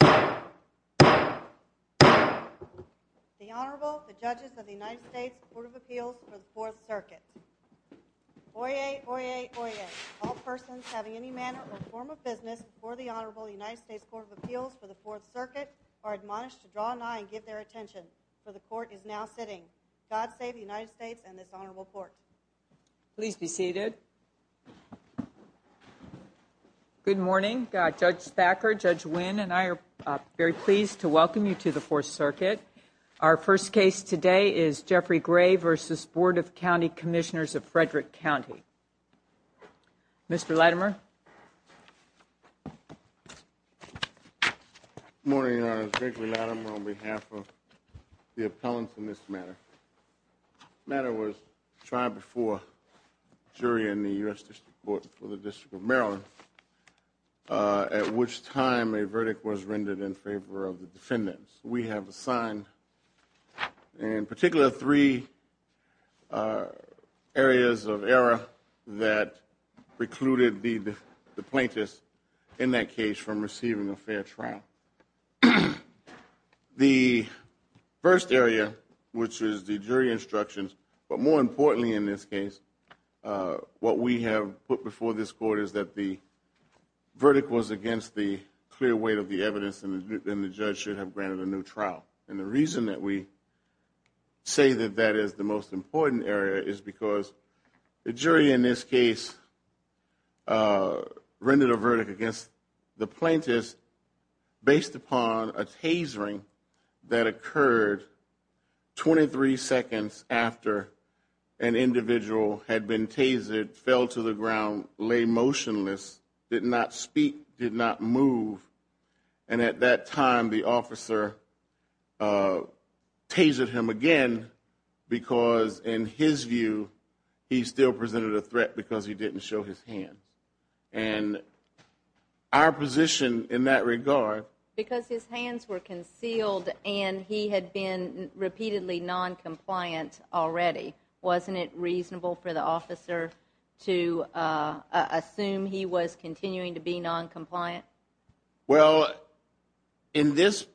The Honorable, the Judges of the United States Court of Appeals for the Fourth Circuit. Oyez, oyez, oyez. All persons having any manner or form of business before the Honorable United States Court of Appeals for the Fourth Circuit are admonished to draw an eye and give their attention, for the Court is now sitting. God save the United States and this Honorable Court. Please be seated. Good morning. Judge Thacker, Judge Wynn, and I are very pleased to welcome you to the Fourth Circuit. Our first case today is Jeffrey Gray v. Board of County Commissioners of Frederick County. Mr. Latimer. Good morning, Your Honor. Gregory Latimer on behalf of the appellants in this matter. The matter was tried before a jury in the U.S. District Court for the District of Maryland, at which time a verdict was rendered in favor of the defendants. We have assigned, in particular, three areas of error that precluded the plaintiffs in that case from receiving a fair trial. The first area, which is the jury instructions, but more importantly in this case, what we have put before this Court is that the verdict was against the clear weight of the evidence and the judge should have granted a new trial. And the reason that we say that that is the most important area is because the jury in this case rendered a verdict against the plaintiffs based upon a tasering that occurred 23 seconds after an individual had been tasered, fell to the ground, lay motionless, did not speak, did not move. And at that time, the officer tasered him again because, in his view, he still presented a threat because he didn't show his hands. And our position in that regard... Because his hands were concealed and he had been repeatedly noncompliant already. Wasn't it reasonable for the officer to assume he was continuing to be noncompliant? Well, in this...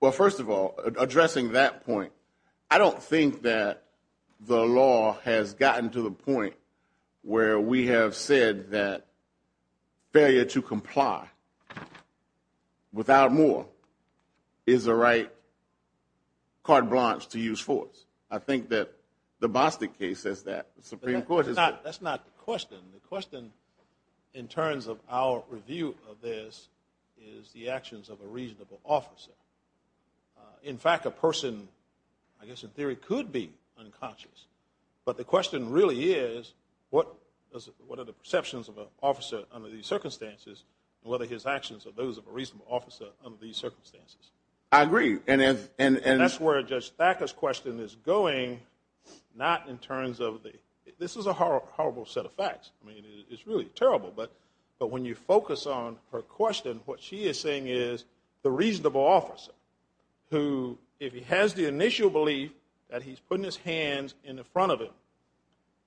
Well, first of all, addressing that point, I don't think that the law has gotten to the point where we have said that failure to comply without more is the right carte blanche to use force. I think that the Bostic case says that. The Supreme Court has said... That's not the question. The question in terms of our review of this is the actions of a reasonable officer. In fact, a person, I guess in theory, could be unconscious. But the question really is what are the perceptions of an officer under these circumstances and whether his actions are those of a reasonable officer under these circumstances. I agree. And that's where Judge Thacker's question is going, not in terms of the... This is a horrible set of facts. I mean, it's really terrible. But when you focus on her question, what she is saying is the reasonable officer who, if he has the initial belief that he's putting his hands in front of him,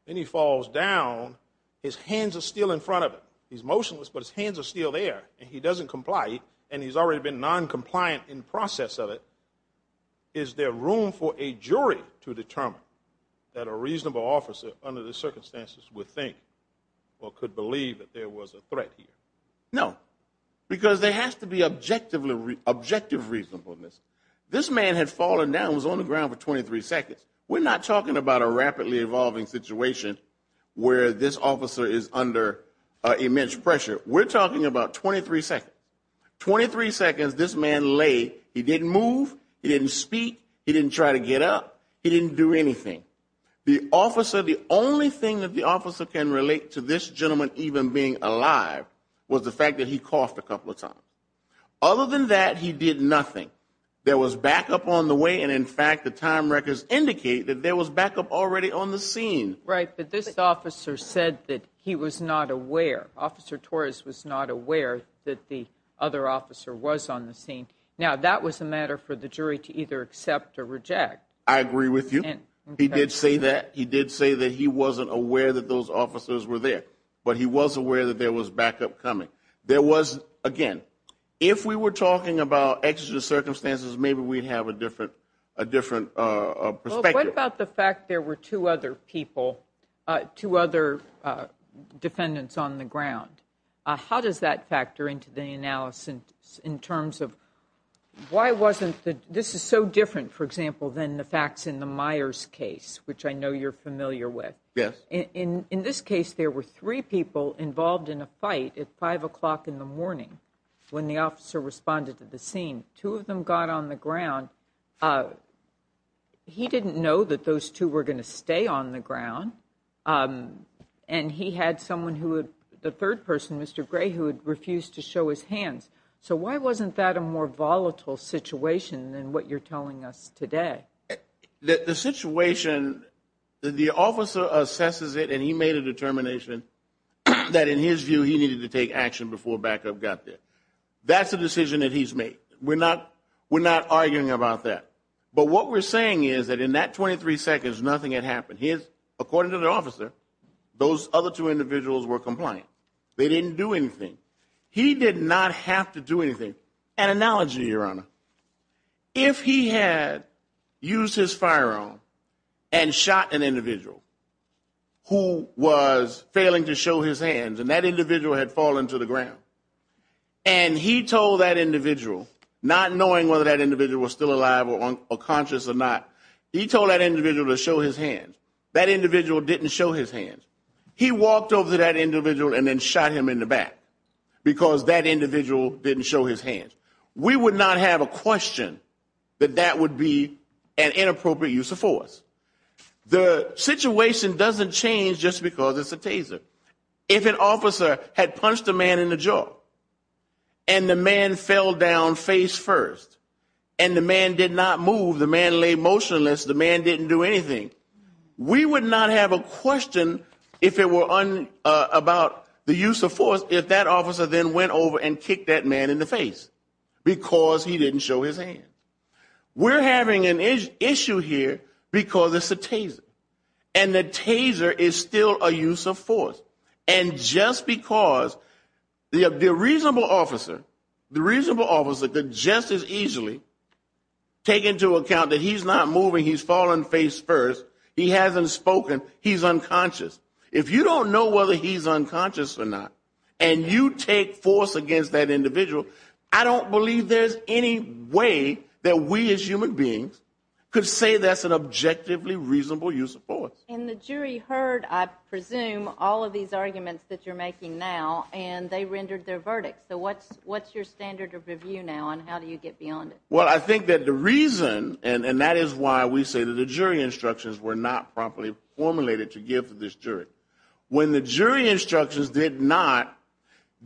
then he falls down, his hands are still in front of him. He's motionless, but his hands are still there. And he doesn't comply. And he's already been noncompliant in the process of it. Is there room for a jury to determine that a reasonable officer under these circumstances would think or could believe that there was a threat here? No. Because there has to be objective reasonableness. This man had fallen down and was on the ground for 23 seconds. We're not talking about a rapidly evolving situation where this officer is under immense pressure. We're talking about 23 seconds. 23 seconds this man lay. He didn't move. He didn't speak. He didn't try to get up. He didn't do anything. The officer, the only thing that the officer can relate to this gentleman even being alive was the fact that he coughed a couple of times. Other than that, he did nothing. There was backup on the way, and in fact, the time records indicate that there was backup already on the scene. Right, but this officer said that he was not aware. Officer Torres was not aware that the other officer was on the scene. Now, that was a matter for the jury to either accept or reject. I agree with you. He did say that. He did say that he wasn't aware that those officers were there. But he was aware that there was backup coming. There was, again, if we were talking about exigent circumstances, maybe we'd have a different perspective. Well, what about the fact there were two other people, two other defendants on the ground? How does that factor into the analysis in terms of why wasn't the – this is so different, for example, than the facts in the Myers case, which I know you're familiar with. Yes. In this case, there were three people involved in a fight at 5 o'clock in the morning when the officer responded to the scene. Two of them got on the ground. He didn't know that those two were going to stay on the ground, and he had someone who had – the third person, Mr. Gray, who had refused to show his hands. So why wasn't that a more volatile situation than what you're telling us today? The situation – the officer assesses it, and he made a determination that, in his view, he needed to take action before backup got there. That's a decision that he's made. We're not arguing about that. But what we're saying is that in that 23 seconds, nothing had happened. According to the officer, those other two individuals were compliant. They didn't do anything. He did not have to do anything. An analogy, Your Honor. If he had used his firearm and shot an individual who was failing to show his hands and that individual had fallen to the ground, and he told that individual, not knowing whether that individual was still alive or conscious or not, he told that individual to show his hands. That individual didn't show his hands. He walked over to that individual and then shot him in the back because that individual didn't show his hands. We would not have a question that that would be an inappropriate use of force. The situation doesn't change just because it's a taser. If an officer had punched a man in the jaw and the man fell down face first and the man did not move, the man lay motionless, the man didn't do anything, we would not have a question about the use of force if that officer then went over and kicked that man in the face because he didn't show his hands. We're having an issue here because it's a taser. And the taser is still a use of force. And just because the reasonable officer could just as easily take into account that he's not moving, he's falling face first, he hasn't spoken, he's unconscious. If you don't know whether he's unconscious or not and you take force against that individual, I don't believe there's any way that we as human beings could say that's an objectively reasonable use of force. And the jury heard, I presume, all of these arguments that you're making now and they rendered their verdict. So what's your standard of review now and how do you get beyond it? Well, I think that the reason, and that is why we say that the jury instructions were not properly formulated to give to this jury, when the jury instructions did not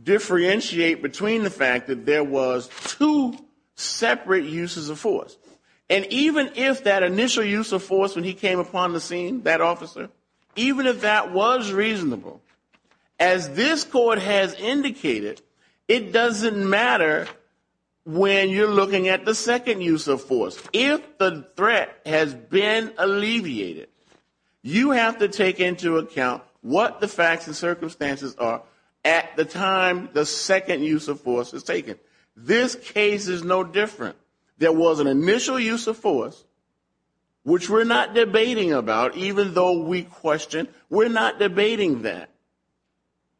differentiate between the fact that there was two separate uses of force. And even if that initial use of force when he came upon the scene, that officer, even if that was reasonable, as this court has indicated, it doesn't matter when you're looking at the second use of force. If the threat has been alleviated, you have to take into account what the facts and circumstances are at the time the second use of force is taken. This case is no different. There was an initial use of force, which we're not debating about, even though we question. We're not debating that.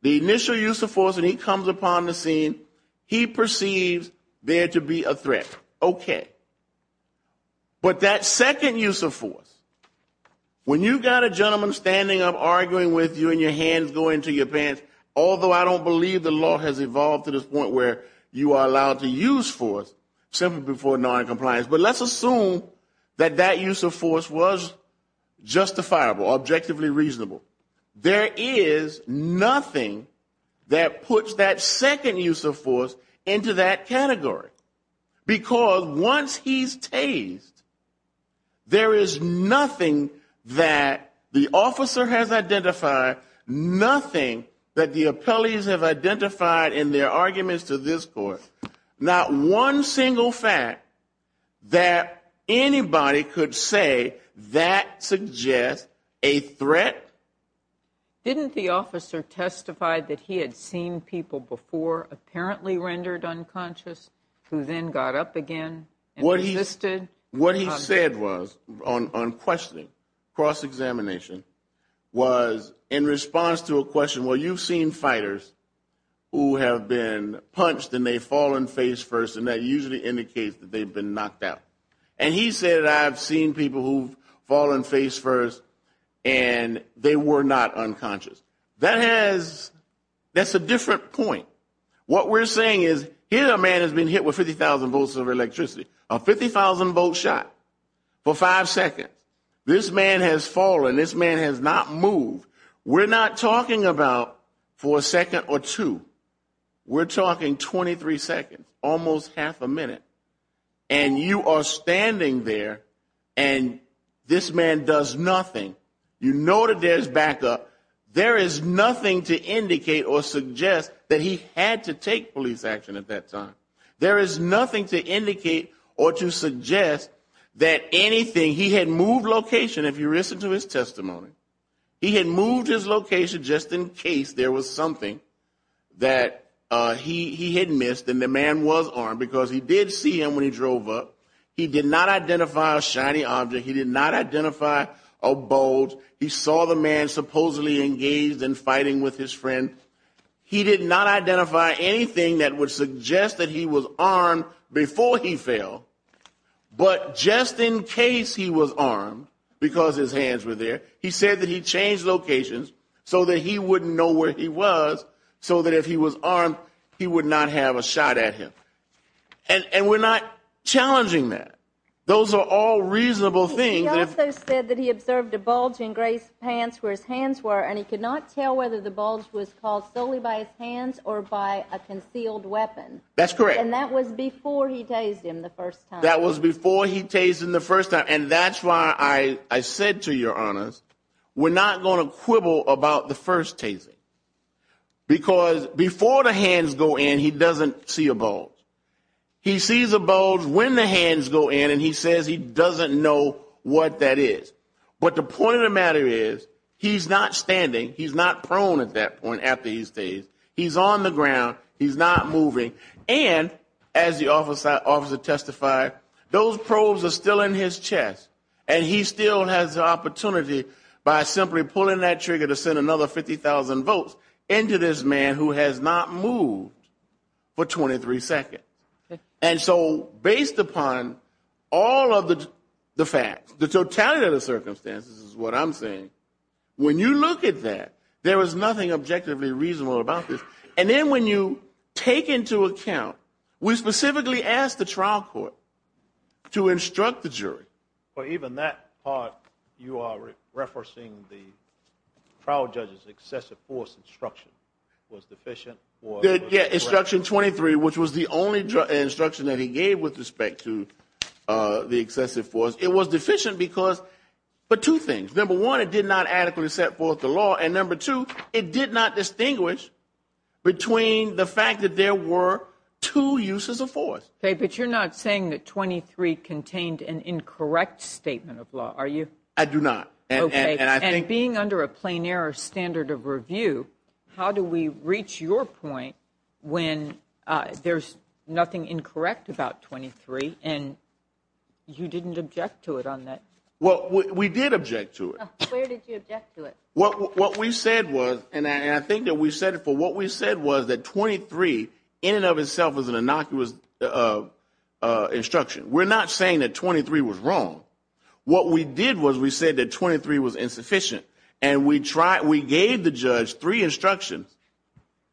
The initial use of force when he comes upon the scene, he perceives there to be a threat. Okay. But that second use of force, when you've got a gentleman standing up arguing with you and your hands go into your pants, although I don't believe the law has evolved to this point where you are allowed to use force simply for noncompliance. But let's assume that that use of force was justifiable, objectively reasonable. There is nothing that puts that second use of force into that category, because once he's tased, there is nothing that the officer has identified, nothing that the appellees have identified in their arguments to this court, not one single fact that anybody could say that suggests a threat. Didn't the officer testify that he had seen people before apparently rendered unconscious who then got up again and resisted? What he said was, on questioning, cross-examination, was in response to a question, well, you've seen fighters who have been punched and they've fallen face first, and that usually indicates that they've been knocked out. And he said, I've seen people who've fallen face first and they were not unconscious. That's a different point. What we're saying is, here a man has been hit with 50,000 volts of electricity. A 50,000-volt shot for five seconds. This man has fallen. This man has not moved. We're not talking about for a second or two. We're talking 23 seconds, almost half a minute. And you are standing there and this man does nothing. You know that there's backup. There is nothing to indicate or suggest that he had to take police action at that time. There is nothing to indicate or to suggest that anything. He had moved location, if you listened to his testimony. He had moved his location just in case there was something that he had missed, and the man was armed because he did see him when he drove up. He did not identify a shiny object. He did not identify a bulge. He saw the man supposedly engaged in fighting with his friend. He did not identify anything that would suggest that he was armed before he fell. But just in case he was armed, because his hands were there, he said that he changed locations so that he wouldn't know where he was, so that if he was armed he would not have a shot at him. And we're not challenging that. Those are all reasonable things. He also said that he observed a bulge in Gray's pants where his hands were, and he could not tell whether the bulge was caused solely by his hands or by a concealed weapon. That's correct. And that was before he tased him the first time. That was before he tased him the first time, and that's why I said to your honors we're not going to quibble about the first tasing because before the hands go in he doesn't see a bulge. He sees a bulge when the hands go in, and he says he doesn't know what that is. But the point of the matter is he's not standing. He's not prone at that point after he stays. He's on the ground. He's not moving. And as the officer testified, those probes are still in his chest, and he still has the opportunity by simply pulling that trigger to send another 50,000 votes into this man who has not moved for 23 seconds. And so based upon all of the facts, the totality of the circumstances is what I'm saying, when you look at that there was nothing objectively reasonable about this. And then when you take into account we specifically asked the trial court to instruct the jury. But even that part you are referencing the trial judge's excessive force instruction was deficient. Instruction 23, which was the only instruction that he gave with respect to the excessive force, it was deficient because of two things. Number one, it did not adequately set forth the law, and number two, it did not distinguish between the fact that there were two uses of force. But you're not saying that 23 contained an incorrect statement of law, are you? I do not. And being under a plein air standard of review, how do we reach your point when there's nothing incorrect about 23 and you didn't object to it on that? Well, we did object to it. Where did you object to it? What we said was, and I think that we said it, but what we said was that 23 in and of itself was an innocuous instruction. We're not saying that 23 was wrong. What we did was we said that 23 was insufficient, and we gave the judge three instructions,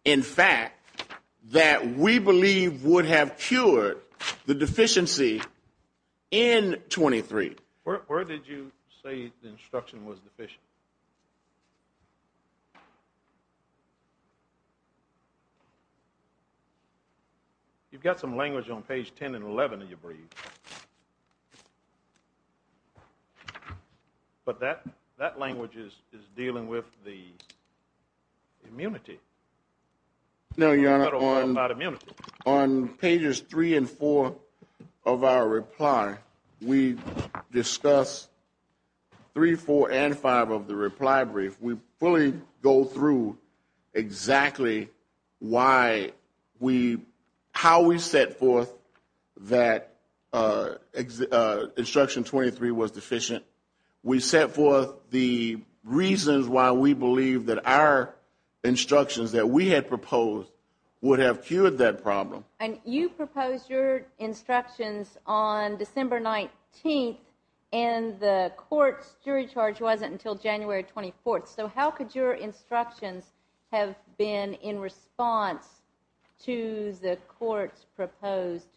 in fact, that we believe would have cured the deficiency in 23. Where did you say the instruction was deficient? You've got some language on page 10 and 11 in your brief. But that language is dealing with the immunity. No, Your Honor, on pages 3 and 4 of our reply, we discuss 3, 4, and 5 of the reply brief. We fully go through exactly how we set forth that instruction 23 was deficient. We set forth the reasons why we believe that our instructions that we had proposed would have cured that problem. And you proposed your instructions on December 19th, and the court's jury charge wasn't until January 24th. So how could your instructions have been in response to the court's proposed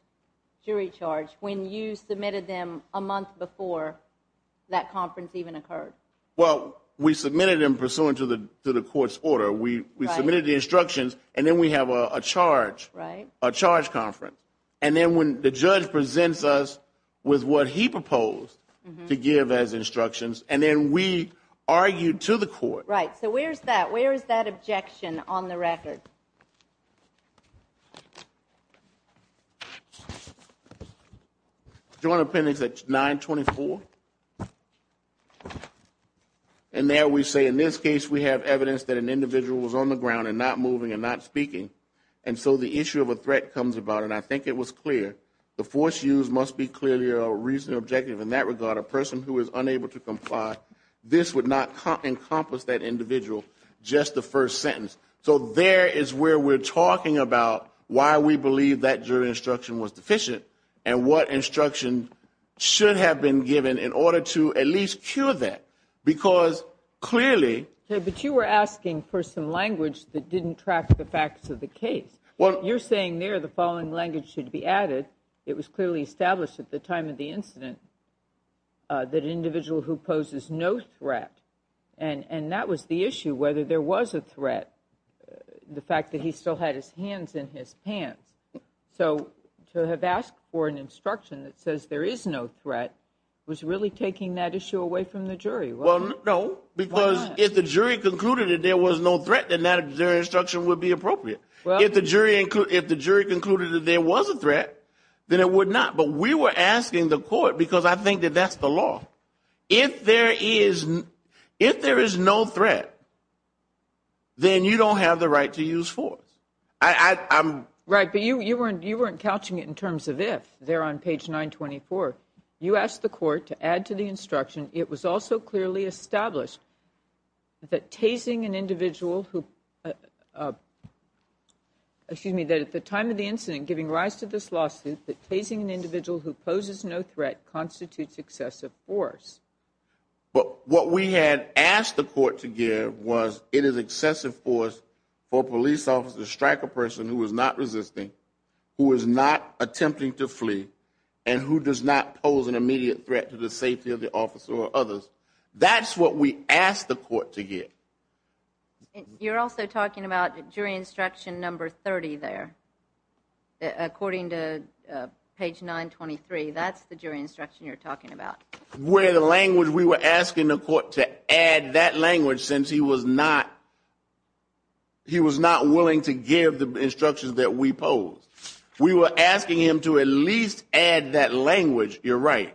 jury charge when you submitted them a month before that conference even occurred? Well, we submitted them pursuant to the court's order. We submitted the instructions, and then we have a charge conference. And then when the judge presents us with what he proposed to give as instructions, and then we argue to the court. Right. So where is that? Where is that objection on the record? Joint appendix at 924. And there we say in this case we have evidence that an individual was on the ground and not moving and not speaking. And so the issue of a threat comes about, and I think it was clear. The force used must be clearly a reasonable objective in that regard. A person who is unable to comply, this would not encompass that individual, just the first sentence. So there is where we're talking about why we believe that jury instruction was deficient and what instruction should have been given in order to at least cure that, because clearly. But you were asking for some language that didn't track the facts of the case. You're saying there the following language should be added. It was clearly established at the time of the incident that an individual who poses no threat, and that was the issue, whether there was a threat, the fact that he still had his hands in his pants. So to have asked for an instruction that says there is no threat was really taking that issue away from the jury. Well, no, because if the jury concluded that there was no threat, then that instruction would be appropriate. If the jury concluded that there was a threat, then it would not. But we were asking the court, because I think that that's the law. If there is no threat, then you don't have the right to use force. Right, but you weren't couching it in terms of if. There on page 924, you asked the court to add to the instruction, it was also clearly established that tasing an individual who, excuse me, that at the time of the incident giving rise to this lawsuit, that tasing an individual who poses no threat constitutes excessive force. But what we had asked the court to give was it is excessive force for a police officer to strike a person who is not resisting, who is not attempting to flee, and who does not pose an immediate threat to the safety of the officer or others. That's what we asked the court to give. You're also talking about jury instruction number 30 there. According to page 923, that's the jury instruction you're talking about. Where the language we were asking the court to add that language since he was not willing to give the instructions that we posed. We were asking him to at least add that language. You're right.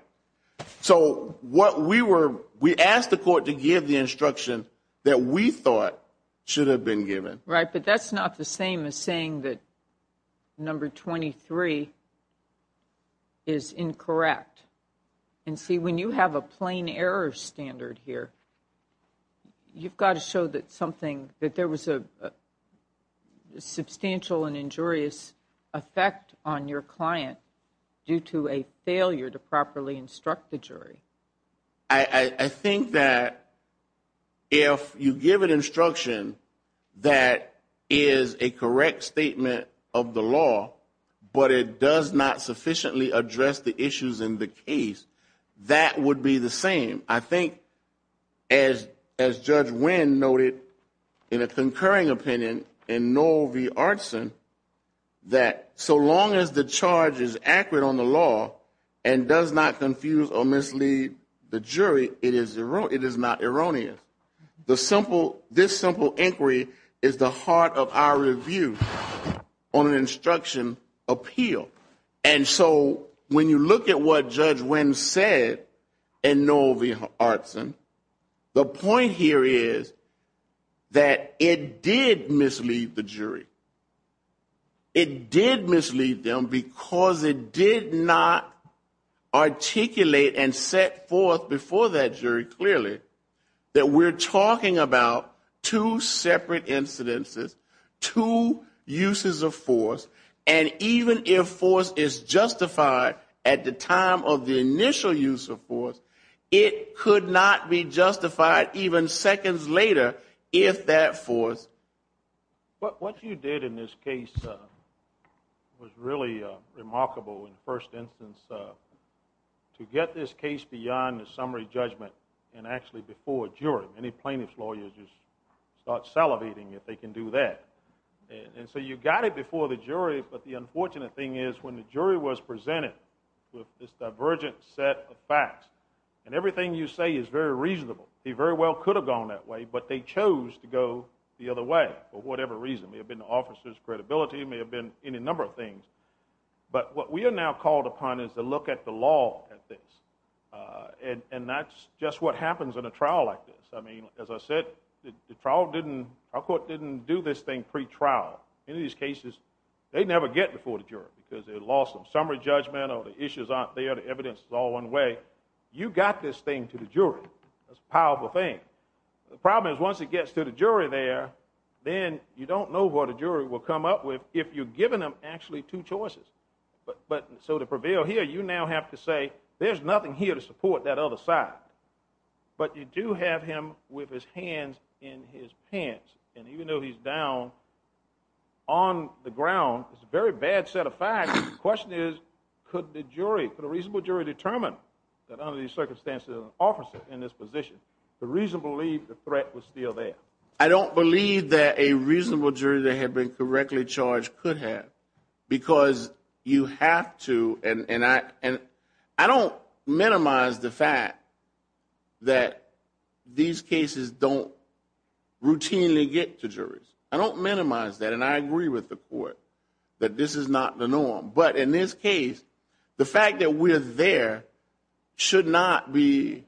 So what we were, we asked the court to give the instruction that we thought should have been given. Right, but that's not the same as saying that number 23 is incorrect. And see, when you have a plain error standard here, you've got to show that something, that there was a substantial and injurious effect on your client due to a failure to properly instruct the jury. I think that if you give an instruction that is a correct statement of the law, but it does not sufficiently address the issues in the case, that would be the same. I think, as Judge Winn noted in a concurring opinion in Noel V. Artson, that so long as the charge is accurate on the law and does not confuse or mislead the jury, it is not erroneous. This simple inquiry is the heart of our review on an instruction appeal. And so when you look at what Judge Winn said in Noel V. Artson, the point here is that it did mislead the jury. It did mislead them because it did not articulate and set forth before that jury clearly that we're talking about two separate incidences, two uses of force, and even if force is justified at the time of the initial use of force, it could not be justified even seconds later if that force... But what you did in this case was really remarkable in the first instance to get this case beyond a summary judgment and actually before a jury. Many plaintiff's lawyers just start salivating if they can do that. And so you got it before the jury, but the unfortunate thing is when the jury was presented with this divergent set of facts, and everything you say is very reasonable. They very well could have gone that way, but they chose to go the other way for whatever reason. It may have been the officer's credibility. It may have been any number of things. But what we are now called upon is to look at the law at this. And that's just what happens in a trial like this. I mean, as I said, the trial didn't... our court didn't do this thing pre-trial. In these cases, they never get before the jury because they lost them. Summary judgment or the issues aren't there, the evidence is all one way. You got this thing to the jury. That's a powerful thing. The problem is once it gets to the jury there, then you don't know what a jury will come up with if you've given them actually two choices. So to prevail here, you now have to say, there's nothing here to support that other side. But you do have him with his hands in his pants. And even though he's down on the ground, it's a very bad set of facts. The question is, could the jury, could a reasonable jury determine that under these circumstances there's an officer in this position? The reason to believe the threat was still there. I don't believe that a reasonable jury that had been correctly charged could have because you have to, and I don't minimize the fact that these cases don't routinely get to juries. I don't minimize that, and I agree with the court that this is not the norm. But in this case, the fact that we're there should not be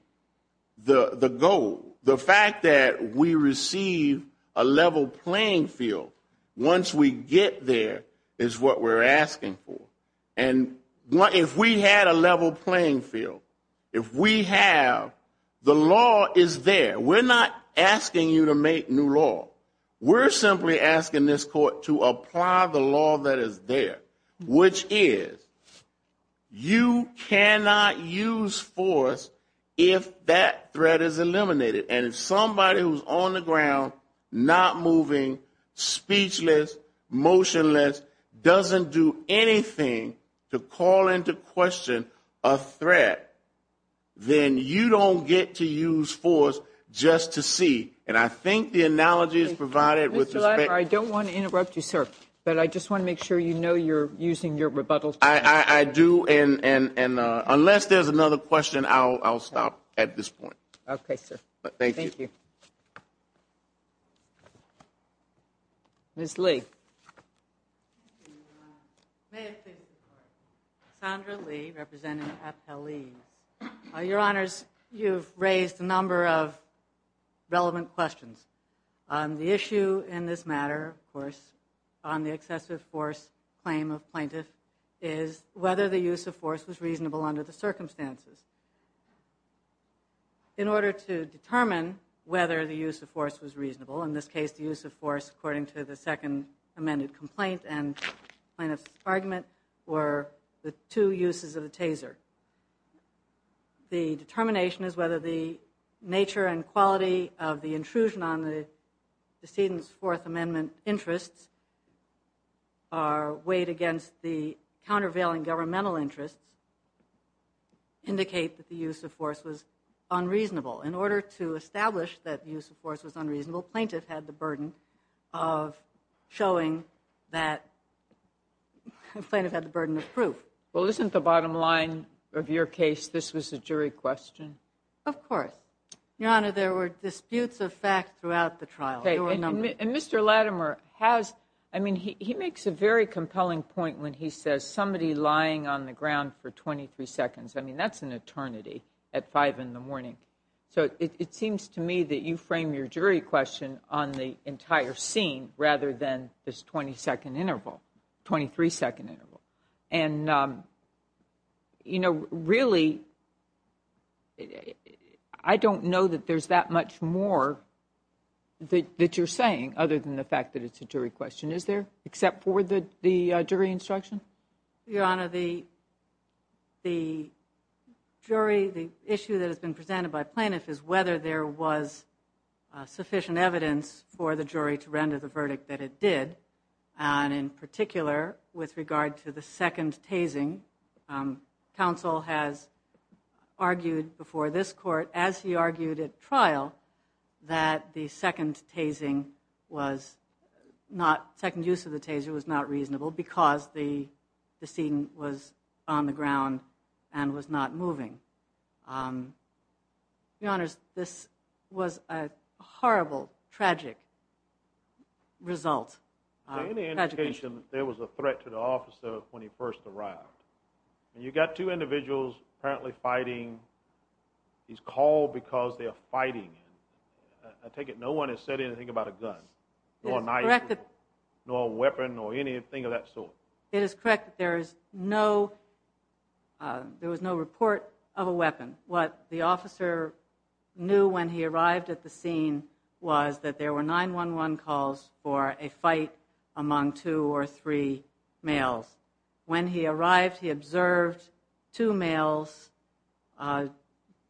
the goal. The fact that we receive a level playing field once we get there is what we're asking for. And if we had a level playing field, if we have the law is there. We're not asking you to make new law. We're simply asking this court to apply the law that is there, which is you cannot use force if that threat is eliminated. And if somebody who's on the ground, not moving, speechless, motionless, doesn't do anything to call into question a threat, then you don't get to use force just to see. And I think the analogy is provided with respect. I don't want to interrupt you, sir, but I just want to make sure you know you're using your rebuttal. I do. And unless there's another question, I'll stop at this point. Okay, sir. Thank you. Ms. Lee. Sandra Lee, representing FLE. Your Honors, you've raised a number of relevant questions. The issue in this matter, of course, on the excessive force claim of plaintiff, is whether the use of force was reasonable under the circumstances. In order to determine whether the use of force was reasonable, in this case the use of force according to the second amended complaint and plaintiff's argument were the two uses of the taser. The determination is whether the nature and quality of the intrusion on the decedent's Fourth Amendment interests are weighed against the countervailing governmental interests, indicate that the use of force was unreasonable. In order to establish that use of force was unreasonable, plaintiff had the burden of showing that plaintiff had the burden of proof. Well, isn't the bottom line of your case this was a jury question? Of course. Your Honor, there were disputes of fact throughout the trial. Okay, and Mr. Latimer has, I mean, he makes a very compelling point when he says, somebody lying on the ground for 23 seconds. I mean, that's an eternity at 5 in the morning. So it seems to me that you frame your jury question on the entire scene rather than this 20-second interval, 23-second interval. And, you know, really I don't know that there's that much more that you're saying other than the fact that it's a jury question. Is there, except for the jury instruction? Your Honor, the jury, the issue that has been presented by plaintiff is whether there was sufficient evidence for the jury to render the verdict that it did. And in particular, with regard to the second tasing, counsel has argued before this court, as he argued at trial, that the second tasing was not, second use of the taser was not reasonable because the scene was on the ground and was not moving. Your Honors, this was a horrible, tragic result. Is there any indication that there was a threat to the officer when he first arrived? You've got two individuals apparently fighting. He's called because they're fighting. I take it no one has said anything about a gun, nor a knife, nor a weapon or anything of that sort. It is correct that there was no report of a weapon. What the officer knew when he arrived at the scene was that there were 911 calls for a fight among two or three males. When he arrived, he observed two males, the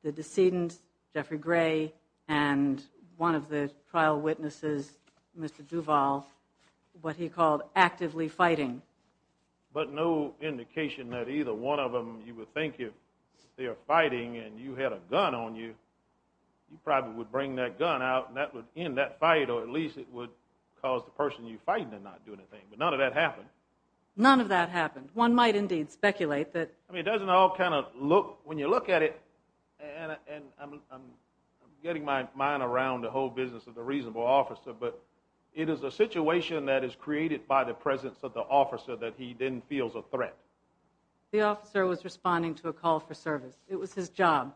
decedent, Jeffrey Gray, and one of the trial witnesses, Mr. Duvall, what he called actively fighting. But no indication that either one of them, you would think if they're fighting and you had a gun on you, you probably would bring that gun out and that would end that fight or at least it would cause the person you're fighting to not do anything. But none of that happened. None of that happened. One might indeed speculate that... It doesn't all kind of look, when you look at it, and I'm getting my mind around the whole business of the reasonable officer, but it is a situation that is created by the presence of the officer that he then feels a threat. The officer was responding to a call for service. It was his job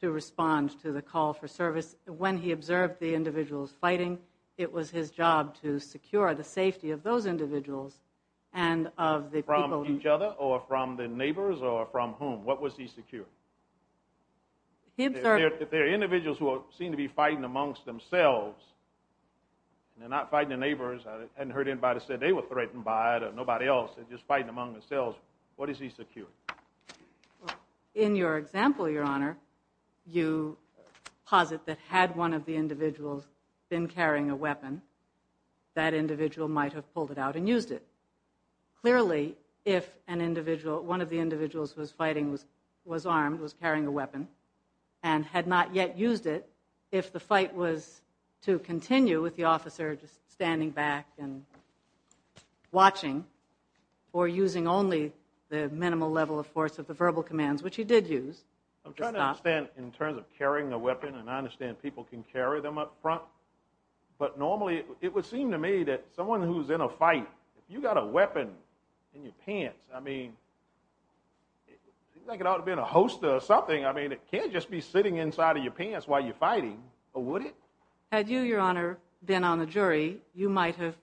to respond to the call for service. When he observed the individuals fighting, it was his job to secure the safety of those individuals and of the people... or from whom. What was he securing? If there are individuals who seem to be fighting amongst themselves, and they're not fighting their neighbors, I hadn't heard anybody say they were threatened by it or nobody else, they're just fighting among themselves, what is he securing? In your example, Your Honor, you posit that had one of the individuals been carrying a weapon, that individual might have pulled it out and used it. Clearly, if one of the individuals who was fighting was armed, was carrying a weapon, and had not yet used it, if the fight was to continue with the officer just standing back and watching, or using only the minimal level of force of the verbal commands, which he did use... I'm trying to understand in terms of carrying a weapon, and I understand people can carry them up front, but normally it would seem to me that someone who's in a fight, if you've got a weapon in your pants, I mean, it seems like it ought to be in a hosta or something. I mean, it can't just be sitting inside of your pants while you're fighting, or would it? Had you, Your Honor, been on the jury, you might have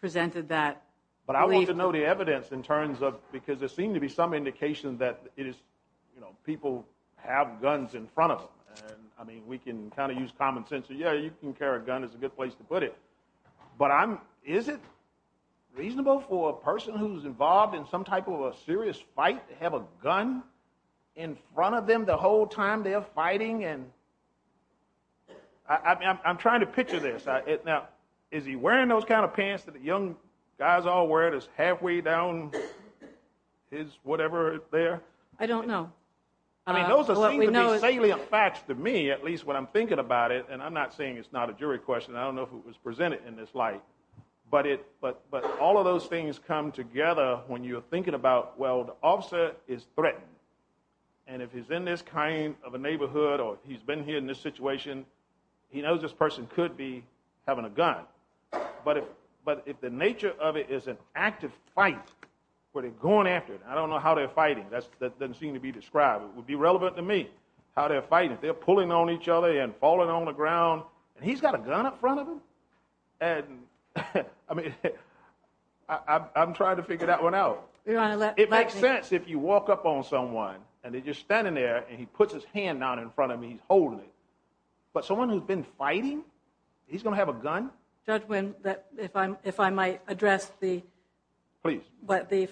presented that belief. But I want to know the evidence in terms of... because there seems to be some indication that people have guns in front of them. I mean, we can kind of use common sense, yeah, you can carry a gun is a good place to put it. But is it reasonable for a person who's involved in some type of a serious fight to have a gun in front of them the whole time they're fighting? I'm trying to picture this. Now, is he wearing those kind of pants that the young guys all wear that's halfway down his whatever there? I don't know. I mean, those seem to be salient facts to me, at least when I'm thinking about it, and I'm not saying it's not a jury question. I don't know if it was presented in this light. But all of those things come together when you're thinking about, well, the officer is threatened, and if he's in this kind of a neighborhood or he's been here in this situation, he knows this person could be having a gun. But if the nature of it is an active fight where they're going after it, I don't know how they're fighting. That doesn't seem to be described. It would be relevant to me how they're fighting. They're pulling on each other and falling on the ground, and he's got a gun up front of him? And, I mean, I'm trying to figure that one out. It makes sense if you walk up on someone and they're just standing there and he puts his hand down in front of me, he's holding it. But someone who's been fighting, he's going to have a gun? Judge Wynn, if I might address the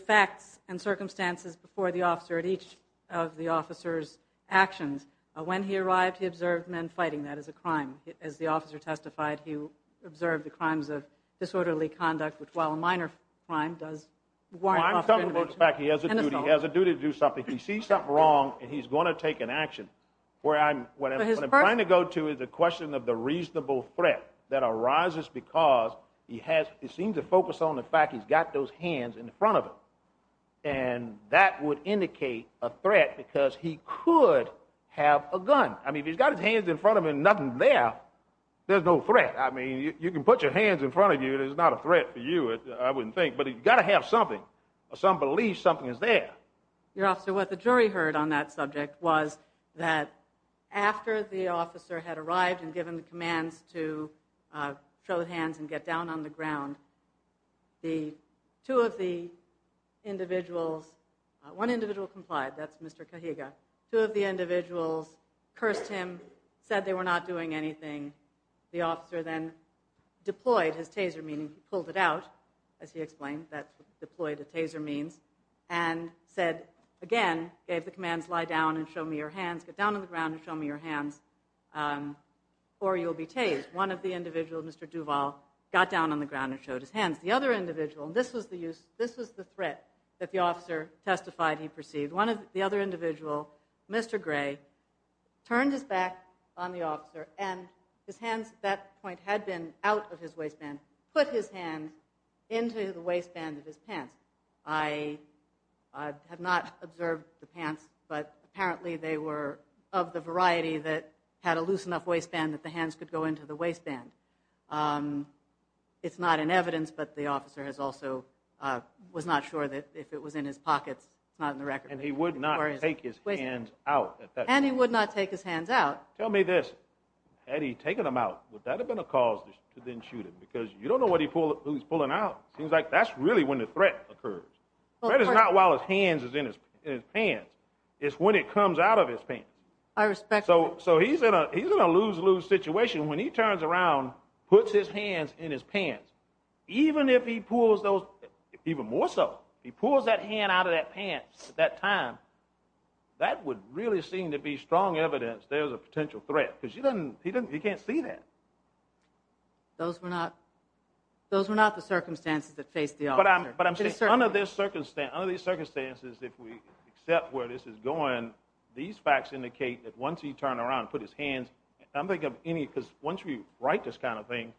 facts and circumstances before the officer at each of the officer's actions. When he arrived, he observed men fighting. That is a crime. As the officer testified, he observed the crimes of disorderly conduct, which, while a minor crime, does warrant prosecution. Well, I'm talking about the fact he has a duty to do something. He sees something wrong and he's going to take an action. What I'm trying to go to is a question of the reasonable threat that arises because he seems to focus on the fact he's got those hands in front of him, and that would indicate a threat because he could have a gun. I mean, if he's got his hands in front of him and nothing's there, there's no threat. I mean, you can put your hands in front of you, there's not a threat for you, I wouldn't think. But he's got to have something or some belief something is there. Your Officer, what the jury heard on that subject was that after the officer had arrived and given the commands to show hands and get down on the ground, the two of the individuals, one individual complied, that's Mr. Kahiga. Two of the individuals cursed him, said they were not doing anything. The officer then deployed his taser, meaning he pulled it out, as he explained. That's deployed, a taser means. And said, again, gave the commands, lie down and show me your hands, get down on the ground and show me your hands, or you'll be tased. One of the individuals, Mr. Duval, got down on the ground and showed his hands. The other individual, and this was the threat that the officer testified he perceived, the other individual, Mr. Gray, turned his back on the officer and his hands at that point had been out of his waistband, put his hands into the waistband of his pants. I have not observed the pants, but apparently they were of the variety that had a loose enough waistband that the hands could go into the waistband. It's not in evidence, but the officer was not sure that if it was in his pockets. And he would not take his hands out. And he would not take his hands out. Tell me this, had he taken them out, would that have been a cause to then shoot him? Because you don't know who he's pulling out. It seems like that's really when the threat occurs. The threat is not while his hands are in his pants. It's when it comes out of his pants. I respect that. So he's in a lose-lose situation. When he turns around, puts his hands in his pants, even if he pulls those, even more so, he pulls that hand out of that pants at that time, that would really seem to be strong evidence there's a potential threat because he can't see that. Those were not the circumstances that faced the officer. But under these circumstances, if we accept where this is going, these facts indicate that once he turned around and put his hands, I'm thinking of any, because once we write this kind of thing,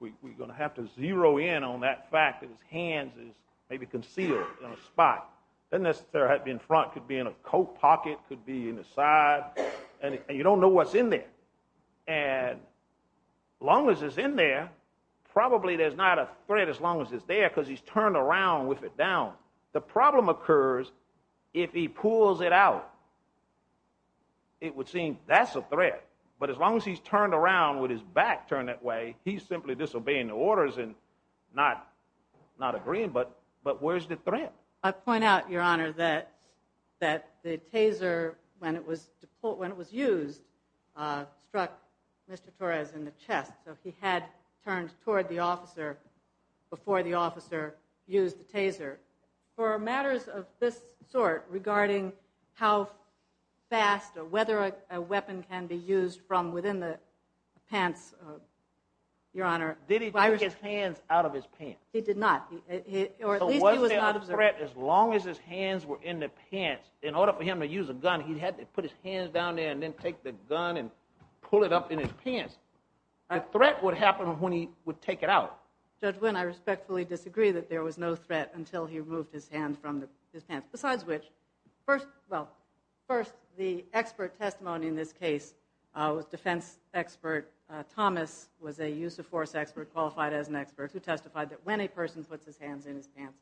we're going to have to zero in on that fact that his hands is maybe concealed in a spot. It doesn't necessarily have to be in front. It could be in a coat pocket. It could be in the side. And you don't know what's in there. And as long as it's in there, probably there's not a threat as long as it's there because he's turned around with it down. The problem occurs if he pulls it out. It would seem that's a threat. But as long as he's turned around with his back turned that way, he's simply disobeying the orders and not agreeing. But where's the threat? I point out, Your Honor, that the taser, when it was used, struck Mr. Torres in the chest. So he had turned toward the officer before the officer used the taser. For matters of this sort regarding how fast or whether a weapon can be used from within the pants, Your Honor. Did he take his hands out of his pants? He did not. So was there a threat as long as his hands were in the pants? In order for him to use a gun, he had to put his hands down there and then take the gun and pull it up in his pants. A threat would happen when he would take it out. Judge Wynn, I respectfully disagree that there was no threat until he removed his hands from his pants. Besides which, first the expert testimony in this case, defense expert Thomas was a use of force expert qualified as an expert who testified that when a person puts his hands in his pants,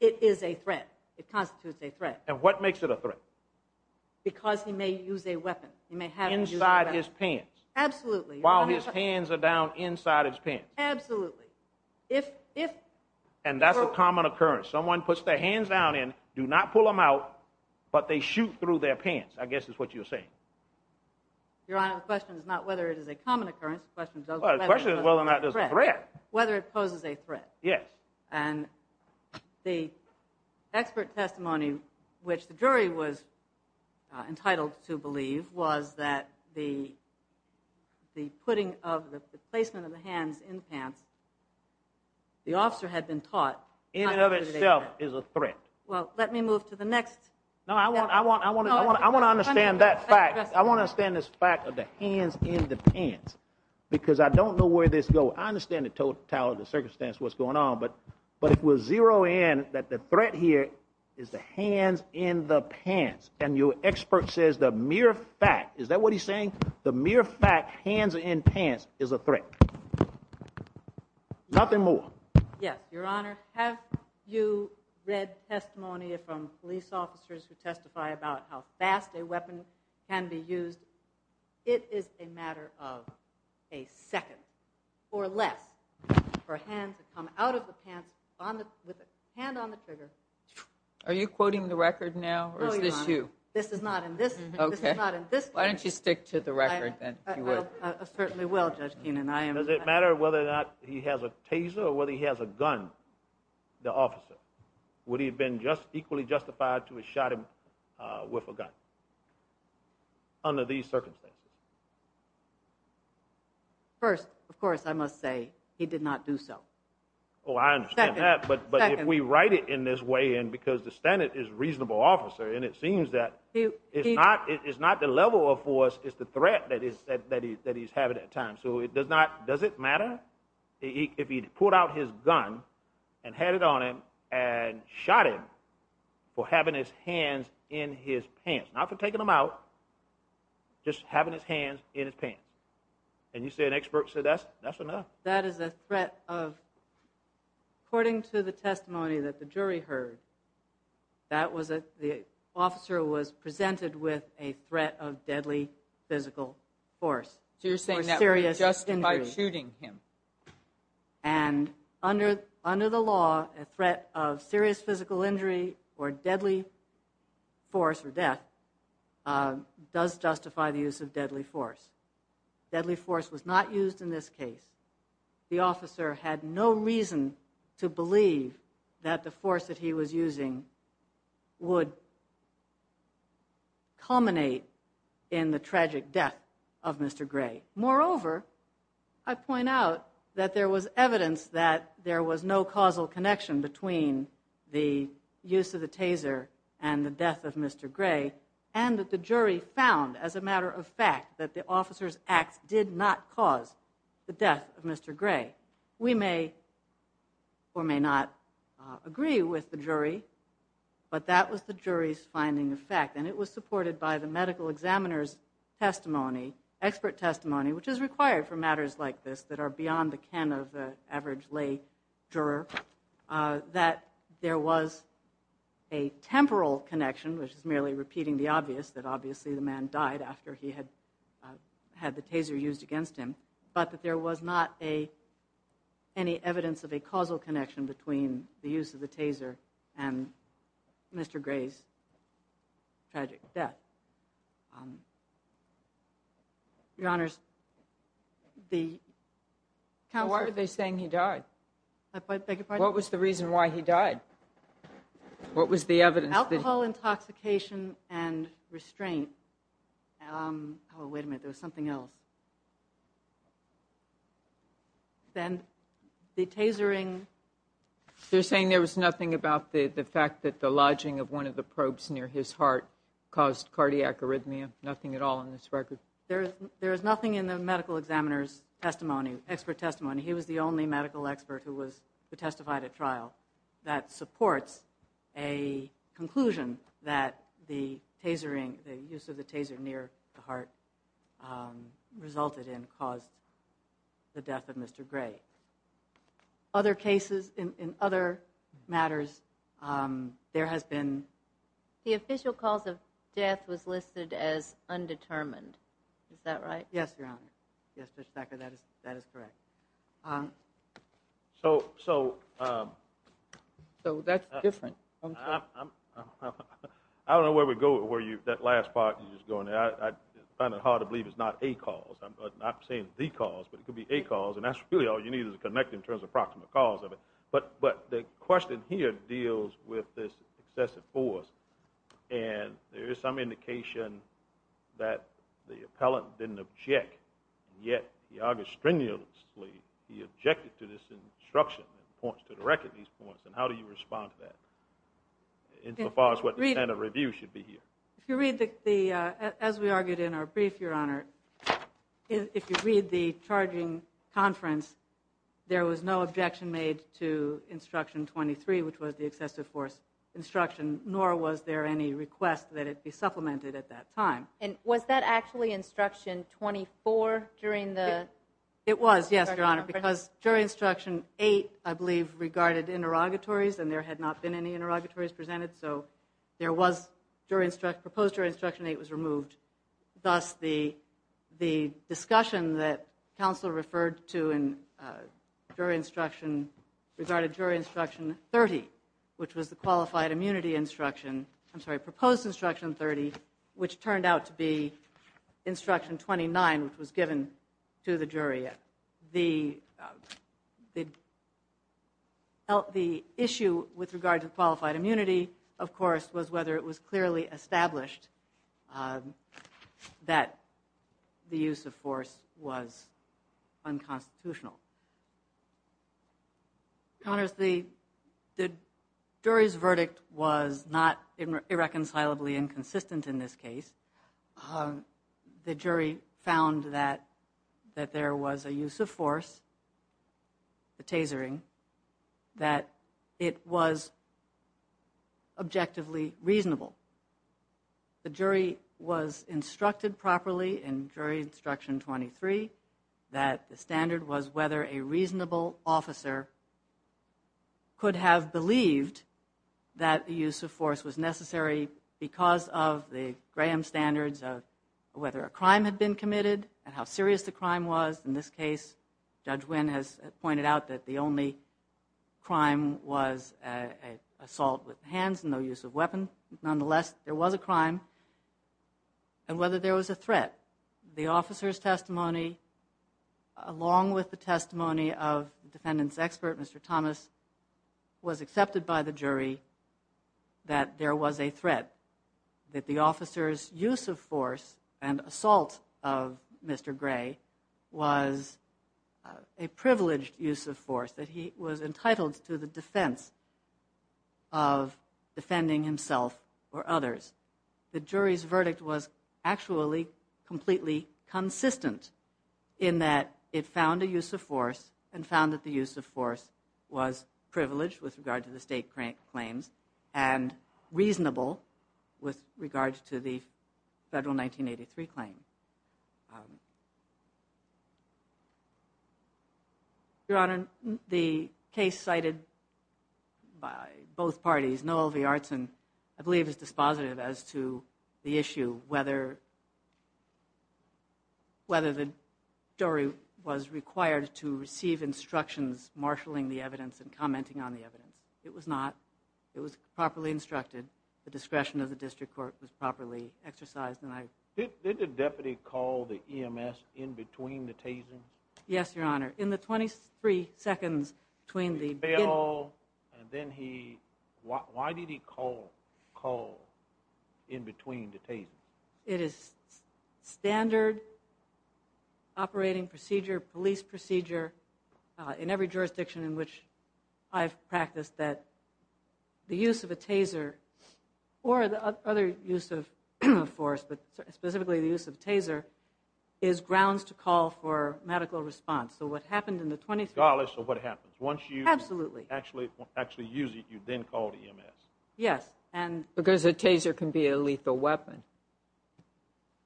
it is a threat. It constitutes a threat. And what makes it a threat? Because he may use a weapon. Inside his pants. Absolutely. While his hands are down inside his pants. Absolutely. And that's a common occurrence. Someone puts their hands down in, do not pull them out, but they shoot through their pants, I guess is what you're saying. Your Honor, the question is not whether it is a common occurrence, the question is whether it poses a threat. Whether it poses a threat. Yes. And the expert testimony, which the jury was entitled to believe, was that the putting of the placement of the hands in the pants, the officer had been taught. In and of itself is a threat. Well, let me move to the next. No, I want to understand that fact. I want to understand this fact of the hands in the pants. Because I don't know where this goes. I understand the totality of the circumstance, what's going on. But it was zero in that the threat here is the hands in the pants. And your expert says the mere fact, is that what he's saying? The mere fact, hands in pants, is a threat. Nothing more. Yes, Your Honor. Have you read testimony from police officers who testify about how fast a weapon can be used? It is a matter of a second or less for a hand to come out of the pants with a hand on the trigger. Are you quoting the record now, or is this you? No, Your Honor. This is not in this case. Why don't you stick to the record then, if you would. I certainly will, Judge Keenan. Does it matter whether or not he has a taser or whether he has a gun, the officer? Would he have been equally justified to have shot him with a gun? Under these circumstances. First, of course, I must say, he did not do so. Oh, I understand that. Second. But if we write it in this way, and because the standard is reasonable officer, and it seems that it's not the level of force, it's the threat that he's having at times. So does it matter if he pulled out his gun and had it on him and shot him for having his hands in his pants? Not for taking them out, just having his hands in his pants. And you say an expert, so that's enough. That is a threat of, according to the testimony that the jury heard, the officer was presented with a threat of deadly physical force. So you're saying that was justified shooting him. And under the law, a threat of serious physical injury or deadly force or death does justify the use of deadly force. Deadly force was not used in this case. The officer had no reason to believe that the force that he was using would culminate in the tragic death of Mr. Gray. Moreover, I point out that there was evidence that there was no causal connection between the use of the taser and the death of Mr. Gray, and that the jury found, as a matter of fact, that the officer's acts did not cause the death of Mr. Gray. We may or may not agree with the jury, but that was the jury's finding of fact. And it was supported by the medical examiner's testimony, expert testimony, which is required for matters like this that are beyond the ken of the average lay juror, that there was a temporal connection, which is merely repeating the obvious, that obviously the man died after he had the taser used against him, but that there was not any evidence of a causal connection between the use of the taser and Mr. Gray's tragic death. Your Honors, the... Why are they saying he died? I beg your pardon? What was the reason why he died? What was the evidence that... Alcohol intoxication and restraint. Oh, wait a minute, there was something else. Then the tasering... They're saying there was nothing about the fact that the lodging of one of the probes near his heart caused cardiac arrhythmia, nothing at all in this record? There is nothing in the medical examiner's testimony, expert testimony. He was the only medical expert who testified at trial that supports a conclusion that the tasering, the use of the taser near the heart resulted in, caused the death of Mr. Gray. Other cases, in other matters, there has been... The official cause of death was listed as undetermined. Is that right? Yes, Your Honor. Yes, Mr. Becker, that is correct. So... That's different. I don't know where we go with that last part. I find it hard to believe it's not a cause. I'm not saying the cause, but it could be a cause. And that's really all you need to connect in terms of approximate cause of it. But the question here deals with this excessive force. And there is some indication that the appellant didn't object, yet he argued strenuously he objected to this instruction and points, to the record, these points. And how do you respond to that insofar as what the standard review should be here? If you read the, as we argued in our brief, Your Honor, if you read the charging conference, there was no objection made to instruction 23, which was the excessive force instruction, nor was there any request that it be supplemented at that time. And was that actually instruction 24 during the... It was, yes, Your Honor, because jury instruction 8, I believe, regarded interrogatories and there had not been any interrogatories presented, so there was proposed jury instruction 8 was removed. Thus, the discussion that counsel referred to in jury instruction, regarded jury instruction 30, which was the qualified immunity instruction, I'm sorry, proposed instruction 30, which turned out to be instruction 29, which was given to the jury. The issue with regard to qualified immunity, of course, was whether it was clearly established that the use of force was unconstitutional. Your Honor, the jury's verdict was not irreconcilably inconsistent in this case. The jury found that there was a use of force, the tasering, that it was objectively reasonable. The jury was instructed properly in jury instruction 23 that the standard was whether a reasonable officer could have believed that the use of force was necessary because of the Graham standards of whether a crime had been committed and how serious the crime was. In this case, Judge Wynn has pointed out that the only crime was assault with hands and no use of weapon. And whether there was a threat. That the officer's testimony, along with the testimony of the defendant's expert, Mr. Thomas, was accepted by the jury that there was a threat. That the officer's use of force and assault of Mr. Gray was a privileged use of force. That he was entitled to the defense of defending himself or others. The jury's verdict was actually completely consistent in that it found a use of force and found that the use of force was privileged with regard to the state claims and reasonable with regard to the federal 1983 claim. Your Honor, the case cited by both parties, Noel V. Artson, I believe is dispositive as to the issue whether the jury was required to receive instructions marshaling the evidence and commenting on the evidence. It was not. It was properly instructed. The discretion of the district court was properly exercised. Did the deputy call the EMS in between the tasings? Yes, Your Honor. In the 23 seconds between the... Why did he call in between the tasings? It is standard operating procedure, police procedure in every jurisdiction in which I've practiced that the use of a taser or the other use of force, but specifically the use of taser, is grounds to call for medical response. So what happened in the 23... Absolutely. Once you actually use it, you then call the EMS. Yes. Because a taser can be a lethal weapon.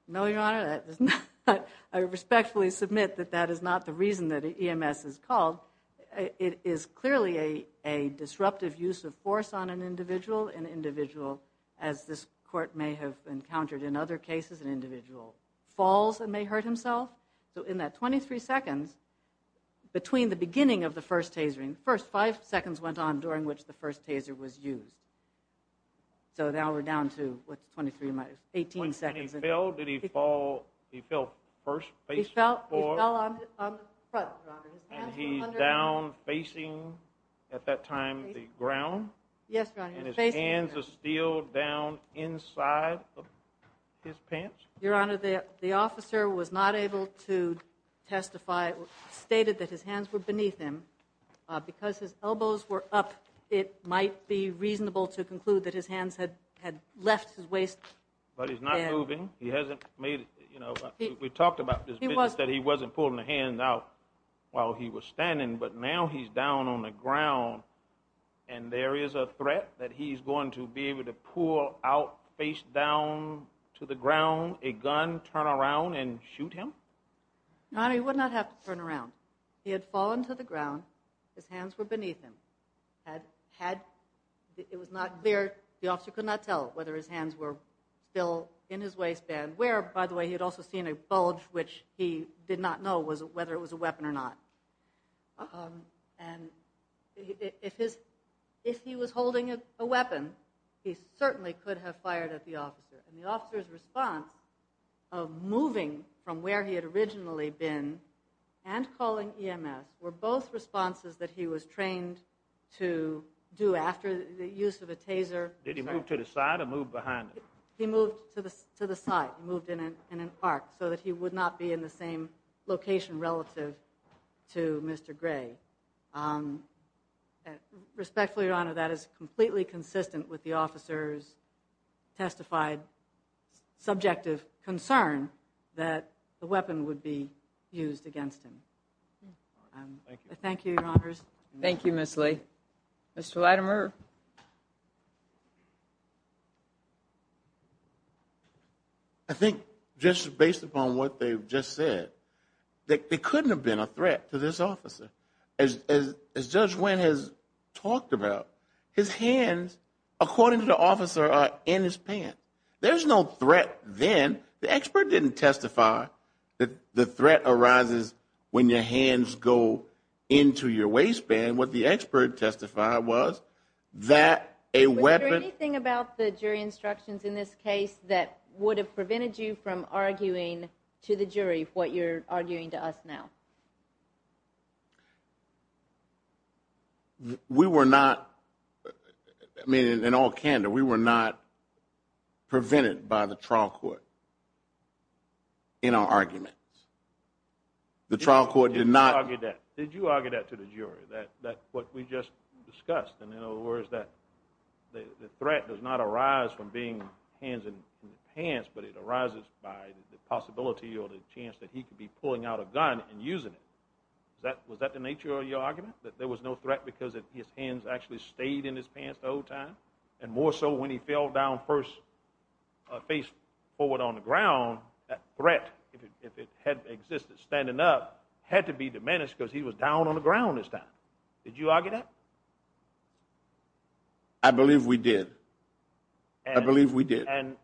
No, Your Honor. I respectfully submit that that is not the reason that EMS is called. It is clearly a disruptive use of force on an individual. An individual, as this court may have encountered in other cases, an individual falls and may hurt himself. So in that 23 seconds, between the beginning of the first tasering, the first 5 seconds went on during which the first taser was used. So now we're down to, what's 23? 18 seconds. When he fell, did he fall, he fell first? He fell on the front, Your Honor. And he's down facing, at that time, the ground? Yes, Your Honor. And his hands are still down inside of his pants? Your Honor, the officer was not able to testify, stated that his hands were beneath him. Because his elbows were up, it might be reasonable to conclude that his hands had left his waist. But he's not moving. He hasn't made it, you know, we talked about this. He said he wasn't pulling the hands out while he was standing, but now he's down on the ground, and there is a threat that he's going to be able to pull out his face down to the ground, a gun, turn around, and shoot him? Your Honor, he would not have to turn around. He had fallen to the ground, his hands were beneath him. It was not clear, the officer could not tell whether his hands were still in his waistband, where, by the way, he had also seen a bulge, which he did not know whether it was a weapon or not. And if he was holding a weapon, he certainly could have fired at the officer. And the officer's response of moving from where he had originally been and calling EMS were both responses that he was trained to do after the use of a taser. Did he move to the side or move behind him? He moved to the side. He moved in an arc so that he would not be in the same location relative to Mr. Gray. Respectfully, Your Honor, that is completely consistent with the officer's testified subjective concern that the weapon would be used against him. Thank you. Thank you, Your Honors. Thank you, Ms. Lee. Mr. Latimer. I think just based upon what they've just said, there couldn't have been a threat to this officer. As Judge Wynn has talked about, his hands, according to the officer, are in his pants. There's no threat then. The expert didn't testify that the threat arises when your hands go into your waistband. What the expert testified was that a weapon ---- Was there anything about the jury instructions in this case that would have prevented you from arguing to the jury what you're arguing to us now? We were not ---- I mean, in all candor, we were not prevented by the trial court in our arguments. The trial court did not ---- Did you argue that to the jury, what we just discussed? In other words, the threat does not arise from being hands in the pants, but it arises by the possibility or the chance that he could be pulling out a gun and using it. Was that the nature of your argument, that there was no threat because his hands actually stayed in his pants the whole time? And more so when he fell down face forward on the ground, that threat, if it had existed standing up, had to be diminished because he was down on the ground this time. Did you argue that? I believe we did. I believe we did. And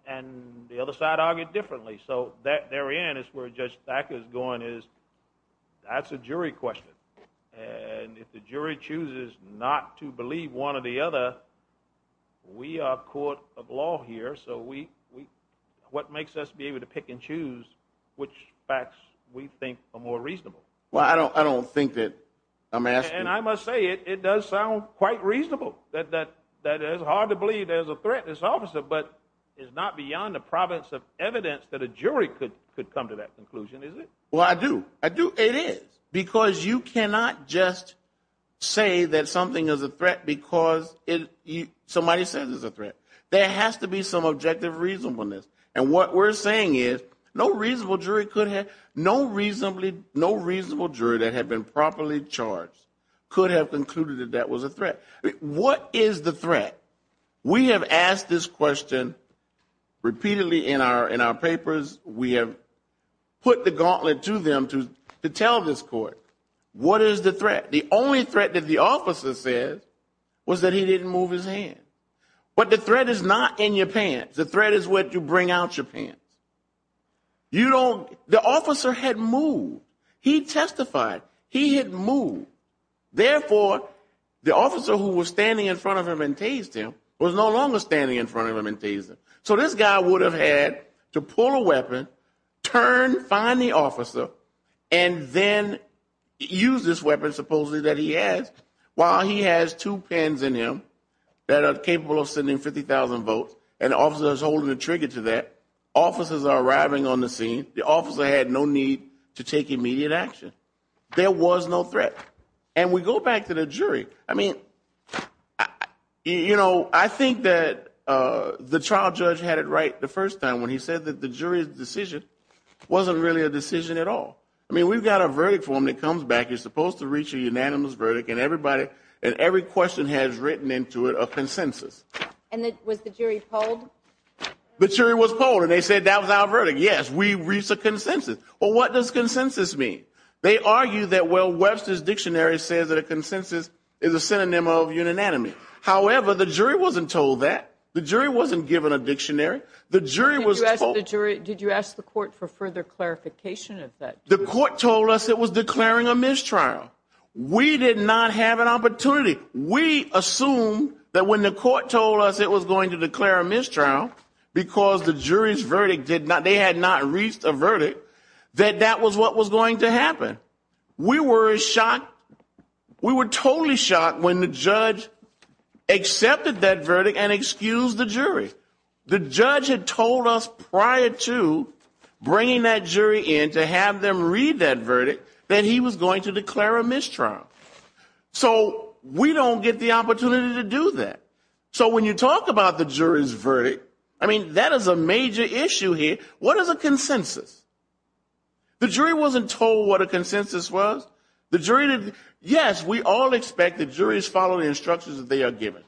the other side argued differently. So therein is where Judge Thacker is going is, that's a jury question. And if the jury chooses not to believe one or the other, we are a court of law here, so what makes us be able to pick and choose which facts we think are more reasonable? Well, I don't think that I'm asking ---- And I must say, it does sound quite reasonable, that it's hard to believe there's a threat in this officer, but it's not beyond the province of evidence that a jury could come to that conclusion, is it? Well, I do. I do. It is. Because you cannot just say that something is a threat because somebody says it's a threat. There has to be some objective reasonableness. And what we're saying is no reasonable jury could have ---- No reasonable jury that had been properly charged could have concluded that that was a threat. What is the threat? We have asked this question repeatedly in our papers. We have put the gauntlet to them to tell this court, what is the threat? The only threat that the officer says was that he didn't move his hand. But the threat is not in your pants. The threat is what you bring out your pants. You don't ---- The officer had moved. He testified. He had moved. Therefore, the officer who was standing in front of him and tased him was no longer standing in front of him and tased him. So this guy would have had to pull a weapon, turn, find the officer, and then use this weapon supposedly that he has, while he has two pens in him that are capable of sending 50,000 votes, and the officer is holding the trigger to that. Officers are arriving on the scene. The officer had no need to take immediate action. There was no threat. And we go back to the jury. I mean, you know, I think that the trial judge had it right the first time when he said that the jury's decision wasn't really a decision at all. I mean, we've got a verdict for him that comes back. You're supposed to reach a unanimous verdict, and everybody, and every question has written into it a consensus. And was the jury polled? The jury was polled, and they said that was our verdict. Yes, we reached a consensus. Well, what does consensus mean? They argue that, well, Webster's Dictionary says that a consensus is a synonym of unanimity. However, the jury wasn't told that. The jury wasn't given a dictionary. The jury was told. Did you ask the court for further clarification of that? The court told us it was declaring a mistrial. We did not have an opportunity. We assume that when the court told us it was going to declare a mistrial because the jury's verdict did not, they had not reached a verdict, that that was what was going to happen. We were shocked. We were totally shocked when the judge accepted that verdict and excused the jury. The judge had told us prior to bringing that jury in to have them read that verdict that he was going to declare a mistrial. So we don't get the opportunity to do that. So when you talk about the jury's verdict, I mean, that is a major issue here. What is a consensus? The jury wasn't told what a consensus was. Yes, we all expect that juries follow the instructions that they are given.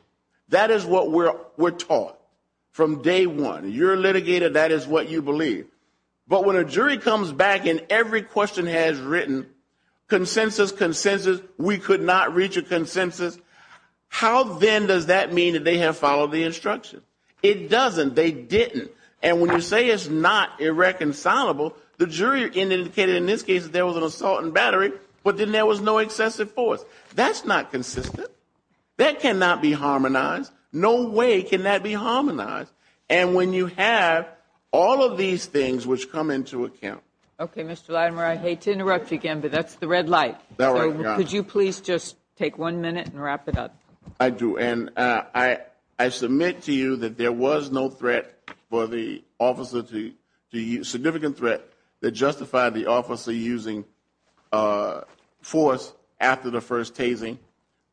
That is what we're taught from day one. You're a litigator. That is what you believe. But when a jury comes back and every question has written consensus, consensus, we could not reach a consensus, how then does that mean that they have followed the instructions? It doesn't. They didn't. And when you say it's not irreconcilable, the jury indicated in this case that there was an assault and battery, but then there was no excessive force. That's not consistent. That cannot be harmonized. No way can that be harmonized. And when you have all of these things which come into account. Okay, Mr. Latimer, I hate to interrupt you again, but that's the red light. Could you please just take one minute and wrap it up? I do. And I submit to you that there was no threat for the officer to use, significant threat that justified the officer using force after the first tasing.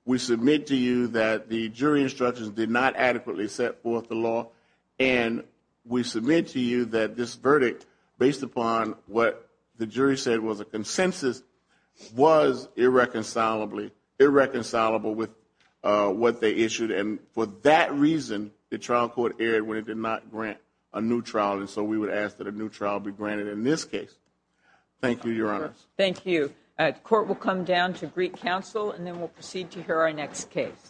We submit to you that the jury instructions did not adequately set forth the law. And we submit to you that this verdict, based upon what the jury said was a consensus, was irreconcilable with what they issued. And for that reason, the trial court erred when it did not grant a new trial. And so we would ask that a new trial be granted in this case. Thank you, Your Honors. Thank you. The court will come down to Greek Council, and then we'll proceed to hear our next case. Thank you.